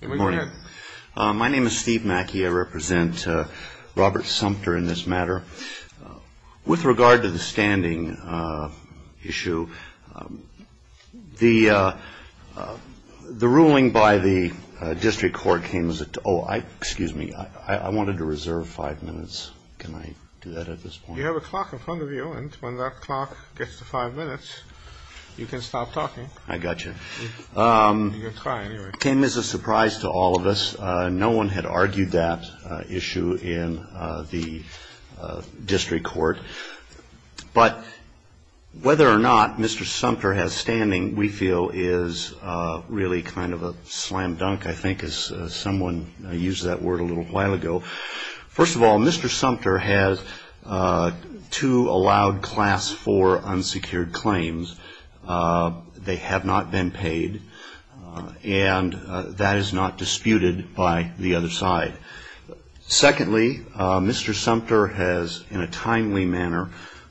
Good morning. My name is Steve Mackey. I represent Robert Sumpter in this matter. With regard to the standing issue, the ruling by the district court came as a oh, excuse me, I wanted to reserve five minutes. Can I do that at this point? You have a clock in front of you. And when that clock gets to five minutes, you can stop talking. I got you. It came as a surprise to all of us. No one had argued that issue in the district court. But whether or not Mr. Sumpter has standing, we feel is really kind of a slam dunk, I think, as someone used that word a little while ago. First of all, Mr. Sumpter has two allowed class four unsecured claims. They have not been paid. And that is not disputed by the other side. Secondly, Mr. Sumpter has in a timely manner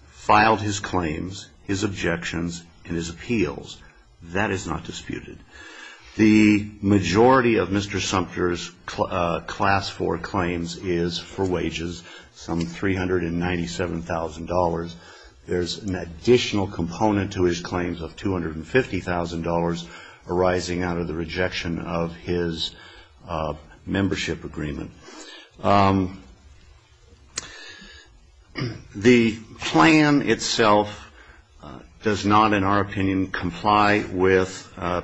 filed his claims, his objections, and his appeals. That is not disputed. The majority of Mr. Sumpter's class four claims is for wages, some $397,000. There's an additional component to his claims of $250,000 arising out of the rejection of his membership agreement. The plan itself does not, in our opinion, comply with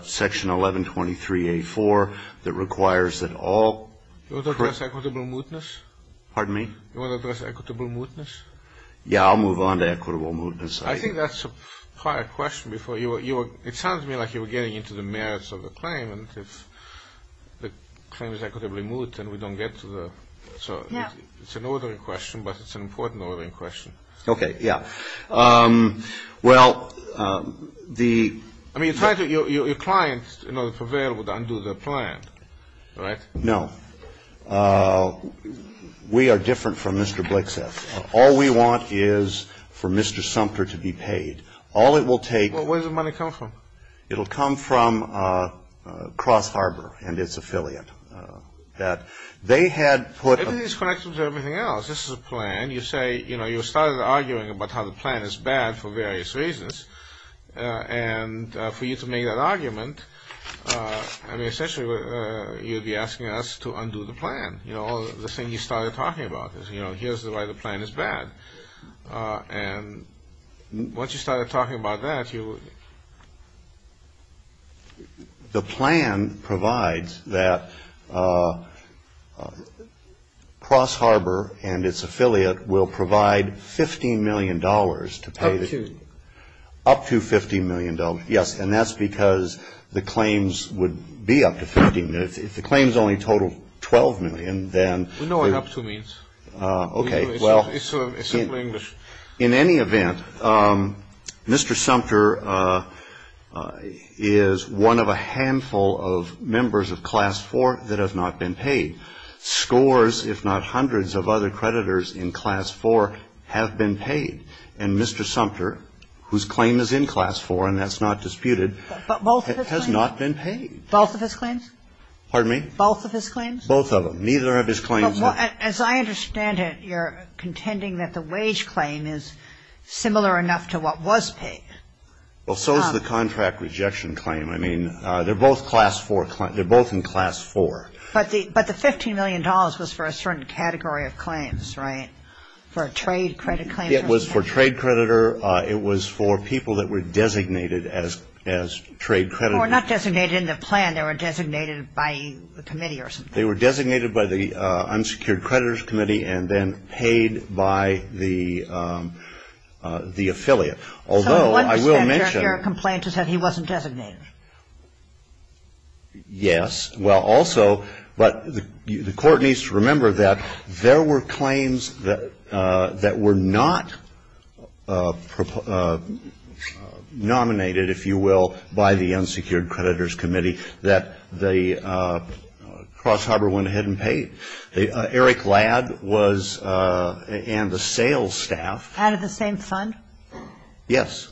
section 1123A4 that requires that all. You want to address equitable mootness? Pardon me? You want to address equitable mootness? Yeah, I'll move on to equitable mootness. I think that's a prior question. It sounds to me like you were getting into the merits of the claim. And if the claim is equitably moot and we don't get to the – Yeah. It's an ordering question, but it's an important ordering question. Okay, yeah. Well, the – I mean, you're trying to – your clients in order to prevail would undo the plan, right? No. We are different from Mr. Blixeth. All we want is for Mr. Sumpter to be paid. All it will take – Well, where does the money come from? It will come from Cross Harbor and its affiliate. That they had put – Everything is connected to everything else. This is a plan. You say – you know, you started arguing about how the plan is bad for various reasons. And for you to make that argument, I mean, essentially you'd be asking us to undo the plan. You know, the thing you started talking about is, you know, here's why the plan is bad. And once you started talking about that, you – The plan provides that Cross Harbor and its affiliate will provide $15 million to pay the – Up to. Up to $15 million, yes. And that's because the claims would be up to $15 million. If the claims only total $12 million, then – We know what up to means. Okay, well – It's simple English. In any event, Mr. Sumpter is one of a handful of members of Class 4 that have not been paid. Scores, if not hundreds of other creditors in Class 4 have been paid. And Mr. Sumpter, whose claim is in Class 4 and that's not disputed, has not been paid. Both of his claims? Pardon me? Both of his claims? Both of them. Neither of his claims – As I understand it, you're contending that the wage claim is similar enough to what was paid. Well, so is the contract rejection claim. I mean, they're both Class 4 – they're both in Class 4. But the $15 million was for a certain category of claims, right? For a trade credit claim? It was for trade creditor. It was for people that were designated as trade creditors. They were not designated in the plan. They were designated by the committee or something. They were designated by the Unsecured Creditors Committee and then paid by the affiliate. Although, I will mention – So one percent of your complaint is that he wasn't designated. Yes. Well, also – but the Court needs to remember that there were claims that were not nominated, if you will, by the Unsecured Creditors Committee, that the cross-harbor went ahead and paid. Eric Ladd was – and the sales staff – Out of the same fund? Yes.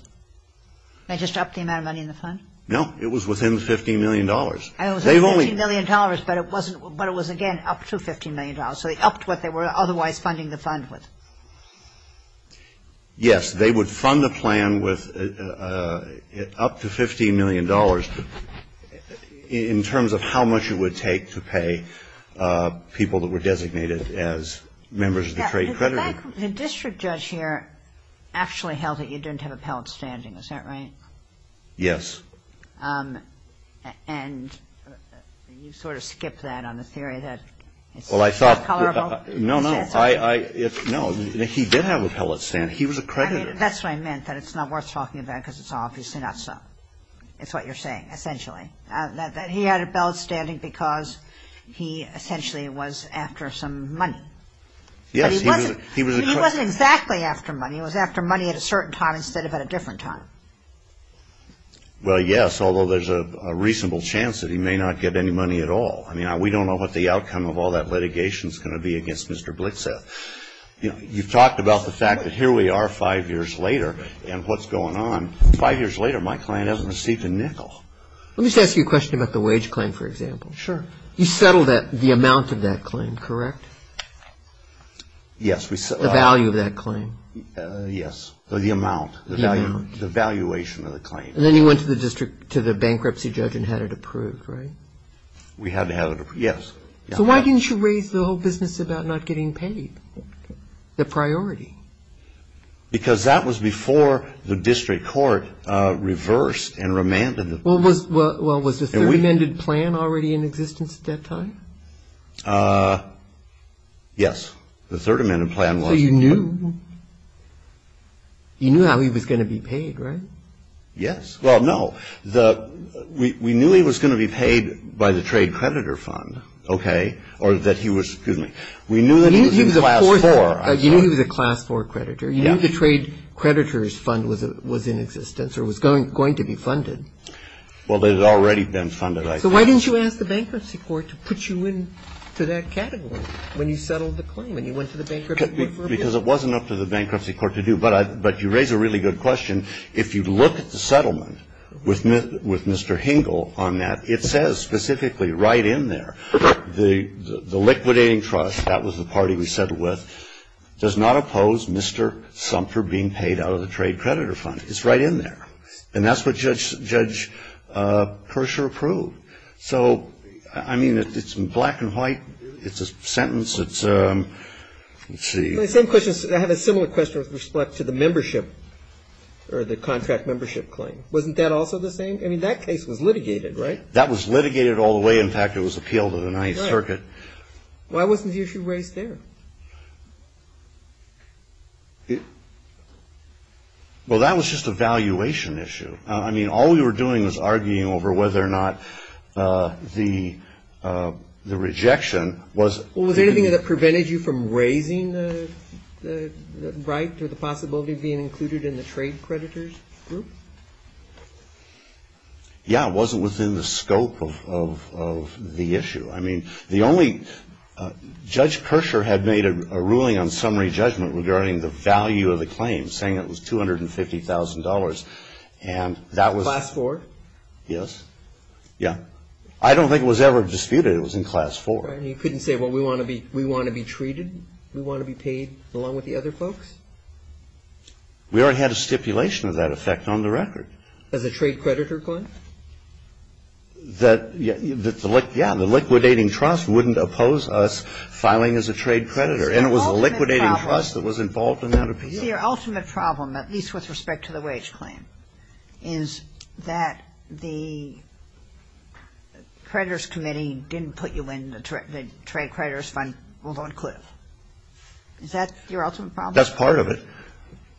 They just upped the amount of money in the fund? No. No. It was within the $15 million. It was $15 million, but it wasn't – but it was, again, up to $15 million. So they upped what they were otherwise funding the fund with. Yes. They would fund the plan with up to $15 million in terms of how much it would take to pay people that were designated as members of the trade creditor. The district judge here actually held that you didn't have appellate standing. Is that right? Yes. And you sort of skipped that on the theory that it's not tolerable? Well, I thought – no, no. I – no. He did have appellate standing. He was a creditor. That's what I meant, that it's not worth talking about because it's obviously not so. It's what you're saying, essentially, that he had appellate standing because he essentially was after some money. Yes. He was a creditor. Well, yes, although there's a reasonable chance that he may not get any money at all. I mean, we don't know what the outcome of all that litigation is going to be against Mr. Blitzeth. You've talked about the fact that here we are five years later and what's going on. Five years later, my client hasn't received a nickel. Let me just ask you a question about the wage claim, for example. Sure. You settled the amount of that claim, correct? Yes. The value of that claim. Yes. The amount. The amount. The valuation of the claim. And then you went to the district – to the bankruptcy judge and had it approved, right? We had to have it approved, yes. So why didn't you raise the whole business about not getting paid? The priority. Because that was before the district court reversed and remanded it. Well, was the third amended plan already in existence at that time? Yes. The third amended plan was. Well, you knew. You knew how he was going to be paid, right? Yes. Well, no. We knew he was going to be paid by the trade creditor fund, okay, or that he was – excuse me. We knew that he was in class four. You knew he was a class four creditor. You knew the trade creditor's fund was in existence or was going to be funded. Well, it had already been funded, I think. So why didn't you ask the bankruptcy court to put you into that category when you settled the claim, when you went to the bankruptcy court for approval? Because it wasn't up to the bankruptcy court to do. But you raise a really good question. If you look at the settlement with Mr. Hingle on that, it says specifically right in there, the liquidating trust, that was the party we settled with, does not oppose Mr. Sumter being paid out of the trade creditor fund. It's right in there. And that's what Judge Persher approved. So, I mean, it's black and white. It's a sentence. Let's see. I have a similar question with respect to the membership or the contract membership claim. Wasn't that also the same? I mean, that case was litigated, right? That was litigated all the way. In fact, it was appealed in the Ninth Circuit. Why wasn't the issue raised there? Well, that was just a valuation issue. I mean, all we were doing was arguing over whether or not the rejection was... Was there anything that prevented you from raising the right or the possibility of being included in the trade creditors group? Yeah, it wasn't within the scope of the issue. I mean, the only... Judge Persher had made a ruling on summary judgment regarding the value of the claim, saying it was $250,000. And that was... Class four? Yes. Yeah. I don't think it was ever disputed. It was in class four. You couldn't say, well, we want to be treated? We want to be paid along with the other folks? We already had a stipulation of that effect on the record. As a trade creditor, Glenn? Yeah, the liquidating trust wouldn't oppose us filing as a trade creditor. And it was the liquidating trust that was involved in that appeal. Is your ultimate problem, at least with respect to the wage claim, is that the creditors committee didn't put you in the trade creditors fund, although it could have? Is that your ultimate problem? That's part of it.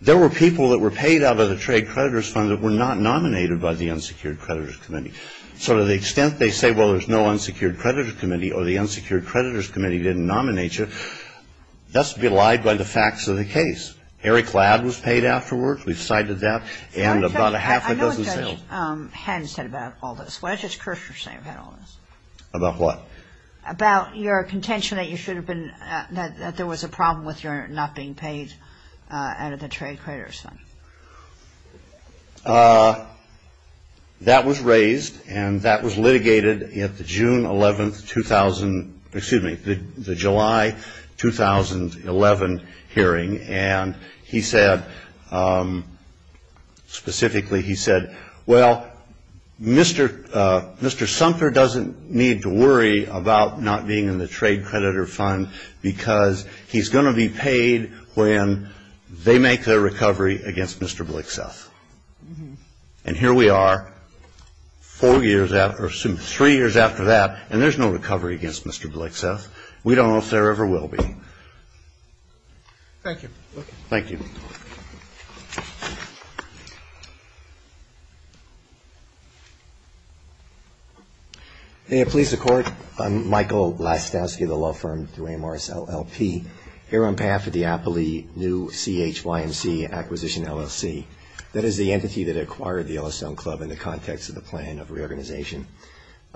There were people that were paid out of the trade creditors fund that were not nominated by the unsecured creditors committee. So to the extent they say, well, there's no unsecured creditors committee or the unsecured creditors committee didn't nominate you, that's belied by the facts of the case. Harry Cladd was paid afterwards. We've cited that. And about a half a dozen sales. I know what Judge Hens said about all this. What does Judge Kirschner say about all this? About what? About your contention that you should have been, that there was a problem with your not being paid out of the trade creditors fund. That was raised and that was litigated at the June 11, 2000, excuse me, the July 2011 hearing. And he said, specifically he said, well, Mr. Sumter doesn't need to worry about not being in the trade creditor fund because he's going to be paid when they make their recovery against Mr. Blixeth. And here we are, four years after, three years after that, and there's no recovery against Mr. Blixeth. We don't know if there ever will be. Thank you. Thank you. Thank you. May it please the Court, I'm Michael Blastowski of the law firm Duane Morris LLP, here on behalf of the Appley New CHYMC Acquisition LLC. That is the entity that acquired the Yellowstone Club in the context of the plan of reorganization.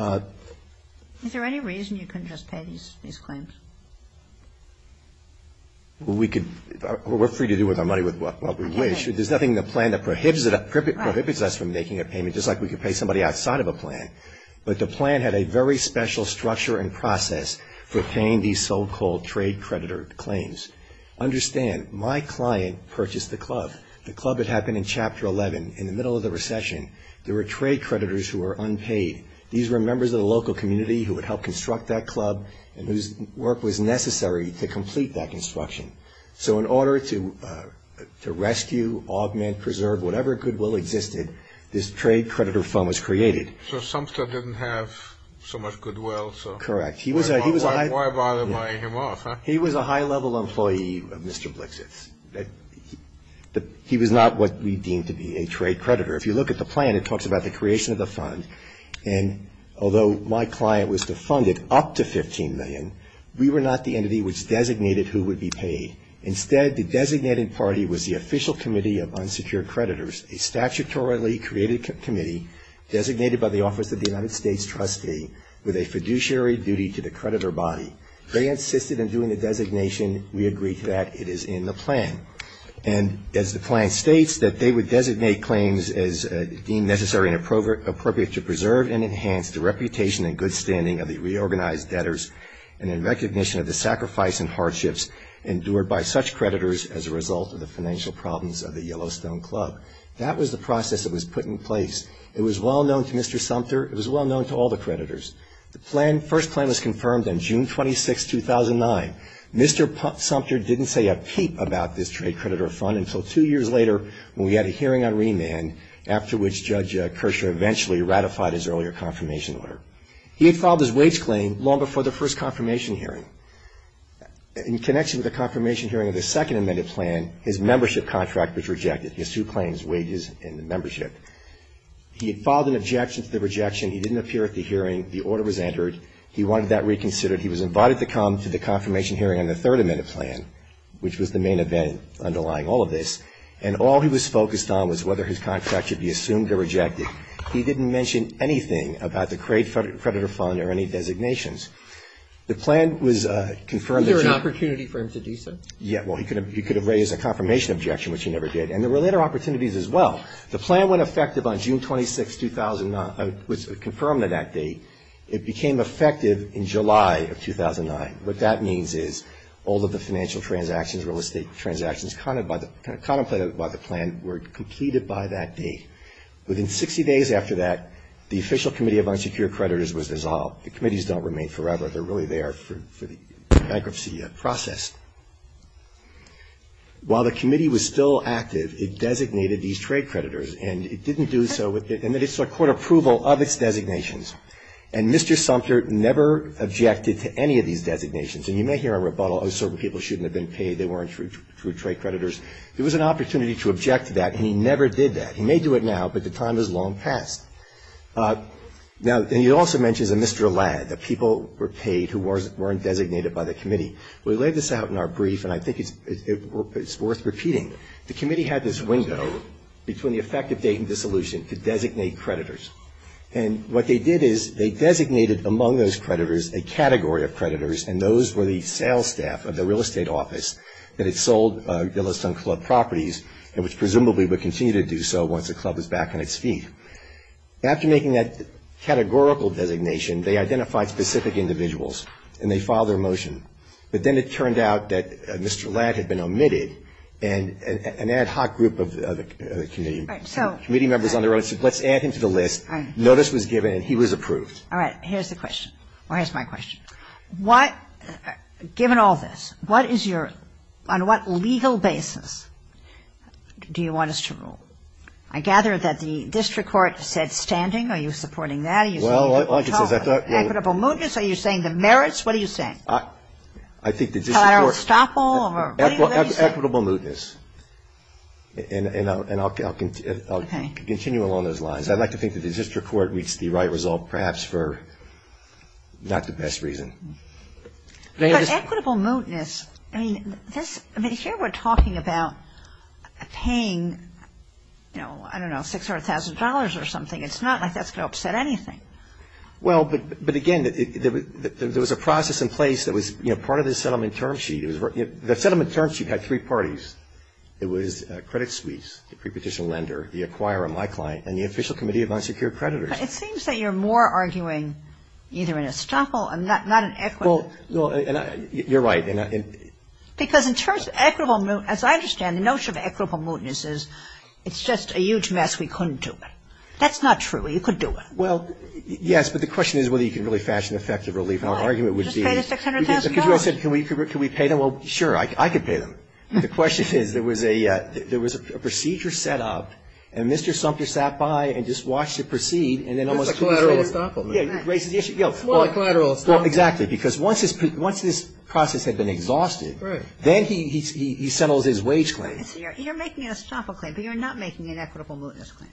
Is there any reason you couldn't just pay these claims? Well, we're free to do with our money with what we wish. There's nothing in the plan that prohibits us from making a payment, just like we could pay somebody outside of a plan. But the plan had a very special structure and process for paying these so-called trade creditor claims. Understand, my client purchased the club. The club had happened in Chapter 11 in the middle of the recession. There were trade creditors who were unpaid. These were members of the local community who would help construct that club and whose work was necessary to complete that construction. So in order to rescue, augment, preserve, whatever goodwill existed, this trade creditor fund was created. So Sumster didn't have so much goodwill. Correct. Why bother buying him off? He was a high-level employee of Mr. Blixeth's. He was not what we deemed to be a trade creditor. If you look at the plan, it talks about the creation of the fund, and although my client was defunded up to $15 million, we were not the entity which designated who would be paid. Instead, the designating party was the Official Committee of Unsecured Creditors, a statutorily created committee designated by the Office of the United States Trustee with a fiduciary duty to the creditor body. They insisted on doing the designation. We agreed to that. It is in the plan. And as the plan states, that they would designate claims as deemed necessary and appropriate to preserve and enhance the reputation and good standing of the reorganized debtors and in recognition of the sacrifice and hardships endured by such creditors as a result of the financial problems of the Yellowstone Club. That was the process that was put in place. It was well known to Mr. Sumster. It was well known to all the creditors. The first plan was confirmed on June 26, 2009. Mr. Sumster didn't say a peep about this trade creditor fund until two years later when we had a hearing on remand after which Judge Kershaw eventually ratified his earlier confirmation order. He had filed his wage claim long before the first confirmation hearing. In connection with the confirmation hearing of the second amended plan, his membership contract was rejected, his two claims, wages and the membership. He had filed an objection to the rejection. He didn't appear at the hearing. The order was entered. He wanted that reconsidered. He was invited to come to the confirmation hearing on the third amended plan, which was the main event underlying all of this, and all he was focused on was whether his contract should be assumed or rejected. He didn't mention anything about the trade creditor fund or any designations. The plan was confirmed. Was there an opportunity for him to dissent? Yeah. Well, he could have raised a confirmation objection, which he never did, and there were later opportunities as well. The plan went effective on June 26, 2009. It was confirmed to that date. It became effective in July of 2009. What that means is all of the financial transactions, real estate transactions contemplated by the plan were completed by that date. Within 60 days after that, the official committee of unsecured creditors was dissolved. The committees don't remain forever. They're really there for the bankruptcy process. While the committee was still active, it designated these trade creditors, and it didn't do so, and it sought court approval of its designations. And Mr. Sumter never objected to any of these designations. And you may hear a rebuttal, oh, certain people shouldn't have been paid, they weren't true trade creditors. There was an opportunity to object to that, and he never did that. He may do it now, but the time is long past. Now, and he also mentions a Mr. Ladd, the people were paid who weren't designated by the committee. We laid this out in our brief, and I think it's worth repeating. The committee had this window between the effective date and dissolution to designate creditors. And what they did is they designated among those creditors a category of creditors, and those were the sales staff of the real estate office that had sold Billistown Club properties and which presumably would continue to do so once the club was back on its feet. After making that categorical designation, they identified specific individuals, and they filed their motion. But then it turned out that Mr. Ladd had been omitted, and an ad hoc group of the committee members on the road said let's add him to the list. Notice was given, and he was approved. All right. Here's the question, or here's my question. Given all this, what is your, on what legal basis do you want us to rule? I gather that the district court said standing. Are you supporting that? Are you saying equitable movements? Are you saying the merits? What are you saying? I think the district court. Collateral estoppel? Equitable mootness. And I'll continue along those lines. I'd like to think that the district court reached the right result perhaps for not the best reason. But equitable mootness, I mean, here we're talking about paying, you know, I don't know, $600,000 or something. It's not like that's going to upset anything. Well, but again, there was a process in place that was, you know, part of the settlement term sheet. The settlement term sheet had three parties. It was credit suites, the prepetition lender, the acquirer, my client, and the official committee of unsecured creditors. But it seems that you're more arguing either an estoppel and not an equitable. Well, you're right. Because in terms of equitable mootness, as I understand, the notion of equitable mootness is it's just a huge mess, we couldn't do it. That's not true. You could do it. Well, yes. But the question is whether you can really fashion effective relief. And our argument would be. Just pay the $600,000. Because you said can we pay them? Well, sure. I could pay them. The question is there was a procedure set up, and Mr. Sumter sat by and just watched it proceed and then almost. It was a collateral estoppel. Yeah. Well, a collateral estoppel. Exactly. Because once this process had been exhausted. Right. Then he settles his wage claim. You're making an estoppel claim, but you're not making an equitable mootness claim.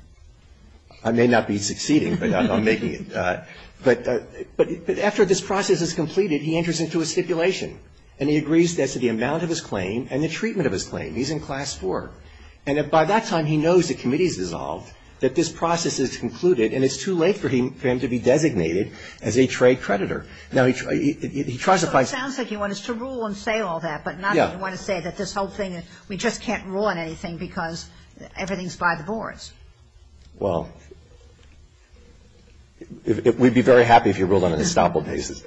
I may not be succeeding, but I'm making it. But after this process is completed, he enters into a stipulation. And he agrees to the amount of his claim and the treatment of his claim. He's in Class 4. And by that time, he knows the committee's dissolved, that this process is concluded, and it's too late for him to be designated as a trade creditor. Now, he tries to find. So it sounds like he wants to rule and say all that. Yeah. But not that he wants to say that this whole thing, we just can't rule on anything because everything's by the boards. Well, we'd be very happy if you ruled on an estoppel basis.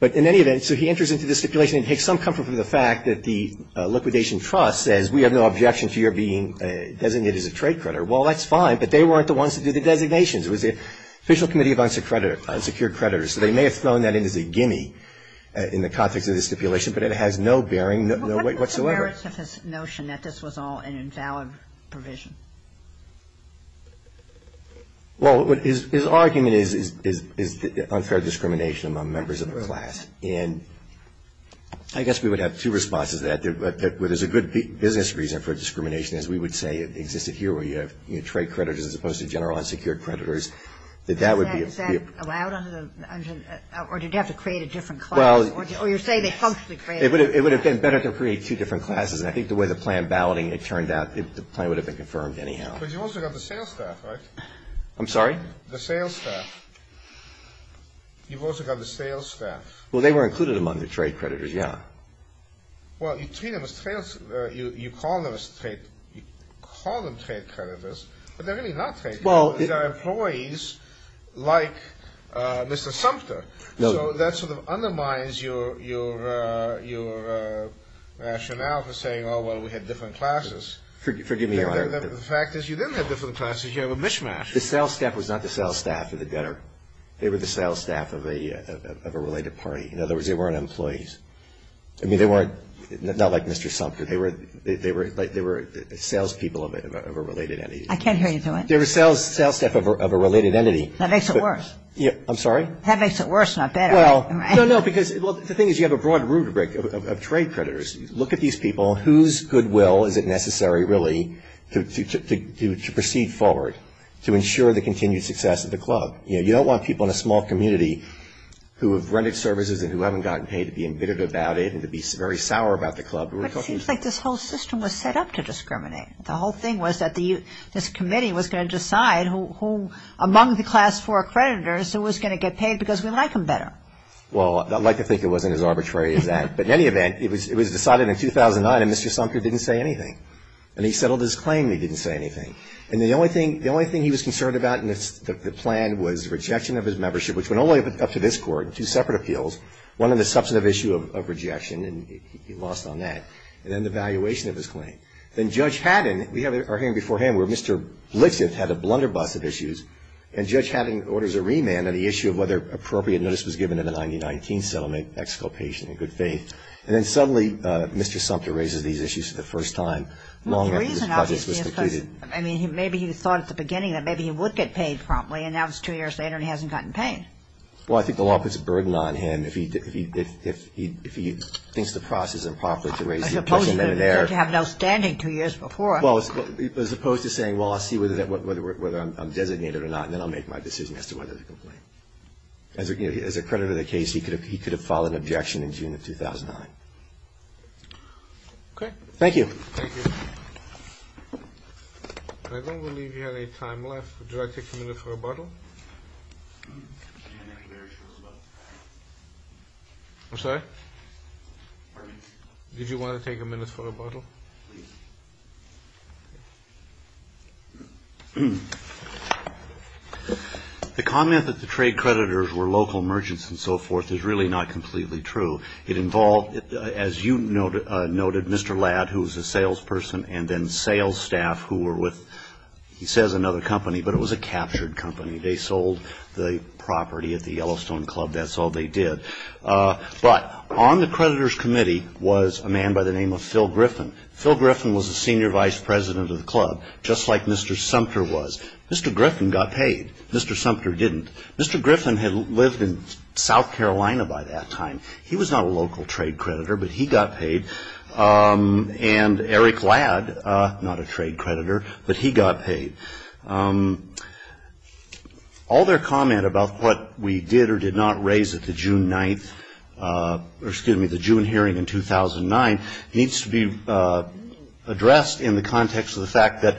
But in any event, so he enters into the stipulation and takes some comfort from the fact that the liquidation trust says, we have no objection to your being designated as a trade creditor. Well, that's fine, but they weren't the ones that did the designations. It was the Official Committee of Unsecured Creditors. So they may have thrown that in as a gimme in the context of the stipulation, but it has no bearing whatsoever. Is he aware of his notion that this was all an invalid provision? Well, his argument is unfair discrimination among members of the class. And I guess we would have two responses to that. There's a good business reason for discrimination, as we would say existed here, where you have trade creditors as opposed to general unsecured creditors. Is that allowed? Or do you have to create a different class? Or you're saying they functionally create a different class? It would have been better to create two different classes. And I think the way the plan balloting had turned out, the plan would have been confirmed anyhow. But you also got the sales staff, right? I'm sorry? The sales staff. You've also got the sales staff. Well, they were included among the trade creditors, yeah. Well, you treat them as trade – you call them trade creditors, but they're really not trade creditors. They're employees like Mr. Sumter. So that sort of undermines your rationale for saying, oh, well, we had different classes. Forgive me, Your Honor. The fact is you didn't have different classes. You have a mishmash. The sales staff was not the sales staff of the debtor. They were the sales staff of a related party. In other words, they weren't employees. I mean, they weren't – not like Mr. Sumter. They were salespeople of a related entity. I can't hear you through it. They were sales staff of a related entity. That makes it worse. I'm sorry? That makes it worse, not better. Well, no, no, because the thing is you have a broad rubric of trade creditors. Look at these people. Whose goodwill is it necessary, really, to proceed forward to ensure the continued success of the club? You know, you don't want people in a small community who have rented services and who haven't gotten paid to be embittered about it and to be very sour about the club. But it seems like this whole system was set up to discriminate. The whole thing was that this committee was going to decide who among the Class 4 creditors who was going to get paid because we like them better. Well, I'd like to think it wasn't as arbitrary as that. But in any event, it was decided in 2009, and Mr. Sumter didn't say anything. And he settled his claim. He didn't say anything. And the only thing he was concerned about in the plan was rejection of his membership, which went all the way up to this Court, two separate appeals, one on the substantive issue of rejection, and he lost on that, and then the valuation of his claim. Then Judge Haddon, we have our hearing beforehand where Mr. Lixith had a blunderbuss of issues, and Judge Haddon orders a remand on the issue of whether appropriate notice was given in the 1919 settlement, exculpation in good faith. And then suddenly Mr. Sumter raises these issues for the first time long after this project was completed. Well, the reason, obviously, is because, I mean, maybe he thought at the beginning that maybe he would get paid promptly, and now it's two years later and he hasn't gotten paid. Well, I think the law puts a burden on him if he thinks the process is improper to raise the question there. He had to have an outstanding two years before. Well, as opposed to saying, well, I'll see whether I'm designated or not, and then I'll make my decision as to whether to complain. As a creditor of the case, he could have filed an objection in June of 2009. Okay. Thank you. Thank you. I don't believe we have any time left. Would you like to take a minute for rebuttal? I'm sorry? Did you want to take a minute for rebuttal? The comment that the trade creditors were local merchants and so forth is really not completely true. It involved, as you noted, Mr. Ladd, who was a salesperson, and then sales staff who were with, he says, another company, but it was a captured company. They sold the property at the Yellowstone Club. That's all they did. But on the creditors' committee was a man by the name of Phil Griffin. Phil Griffin was the senior vice president of the club, just like Mr. Sumter was. Mr. Griffin got paid. Mr. Sumter didn't. Mr. Griffin had lived in South Carolina by that time. He was not a local trade creditor, but he got paid. And Eric Ladd, not a trade creditor, but he got paid. All their comment about what we did or did not raise at the June 9th, or excuse me, the June hearing in 2009, needs to be addressed in the context of the fact that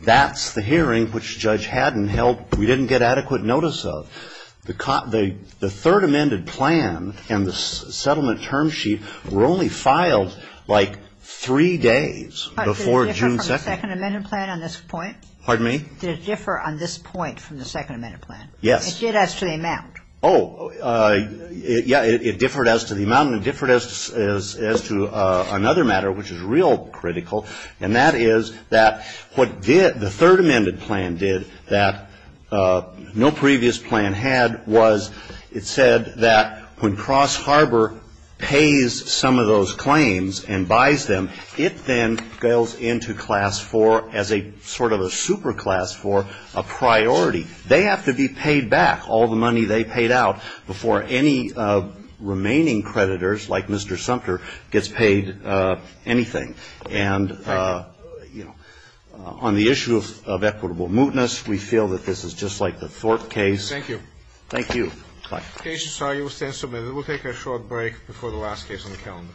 that's the hearing which the judge hadn't held, we didn't get adequate notice of. The third amended plan and the settlement term sheet were only filed like three days before June 2nd. Did the second amended plan on this point? Pardon me? Did it differ on this point from the second amended plan? Yes. It did as to the amount. Oh, yeah, it differed as to the amount, and it differed as to another matter which is real critical, and that is that what the third amended plan did that no previous plan had was it said that when Cross Harbor pays some of those claims and buys them, it then goes into Class 4 as a sort of a super class for a priority. They have to be paid back all the money they paid out before any remaining creditors like Mr. Sumter gets paid anything. And, you know, on the issue of equitable mootness, we feel that this is just like the Thorpe case. Thank you. Thank you. Bye. Mr. Sarai, you will stand submitted. We'll take a short break before the last case on the calendar.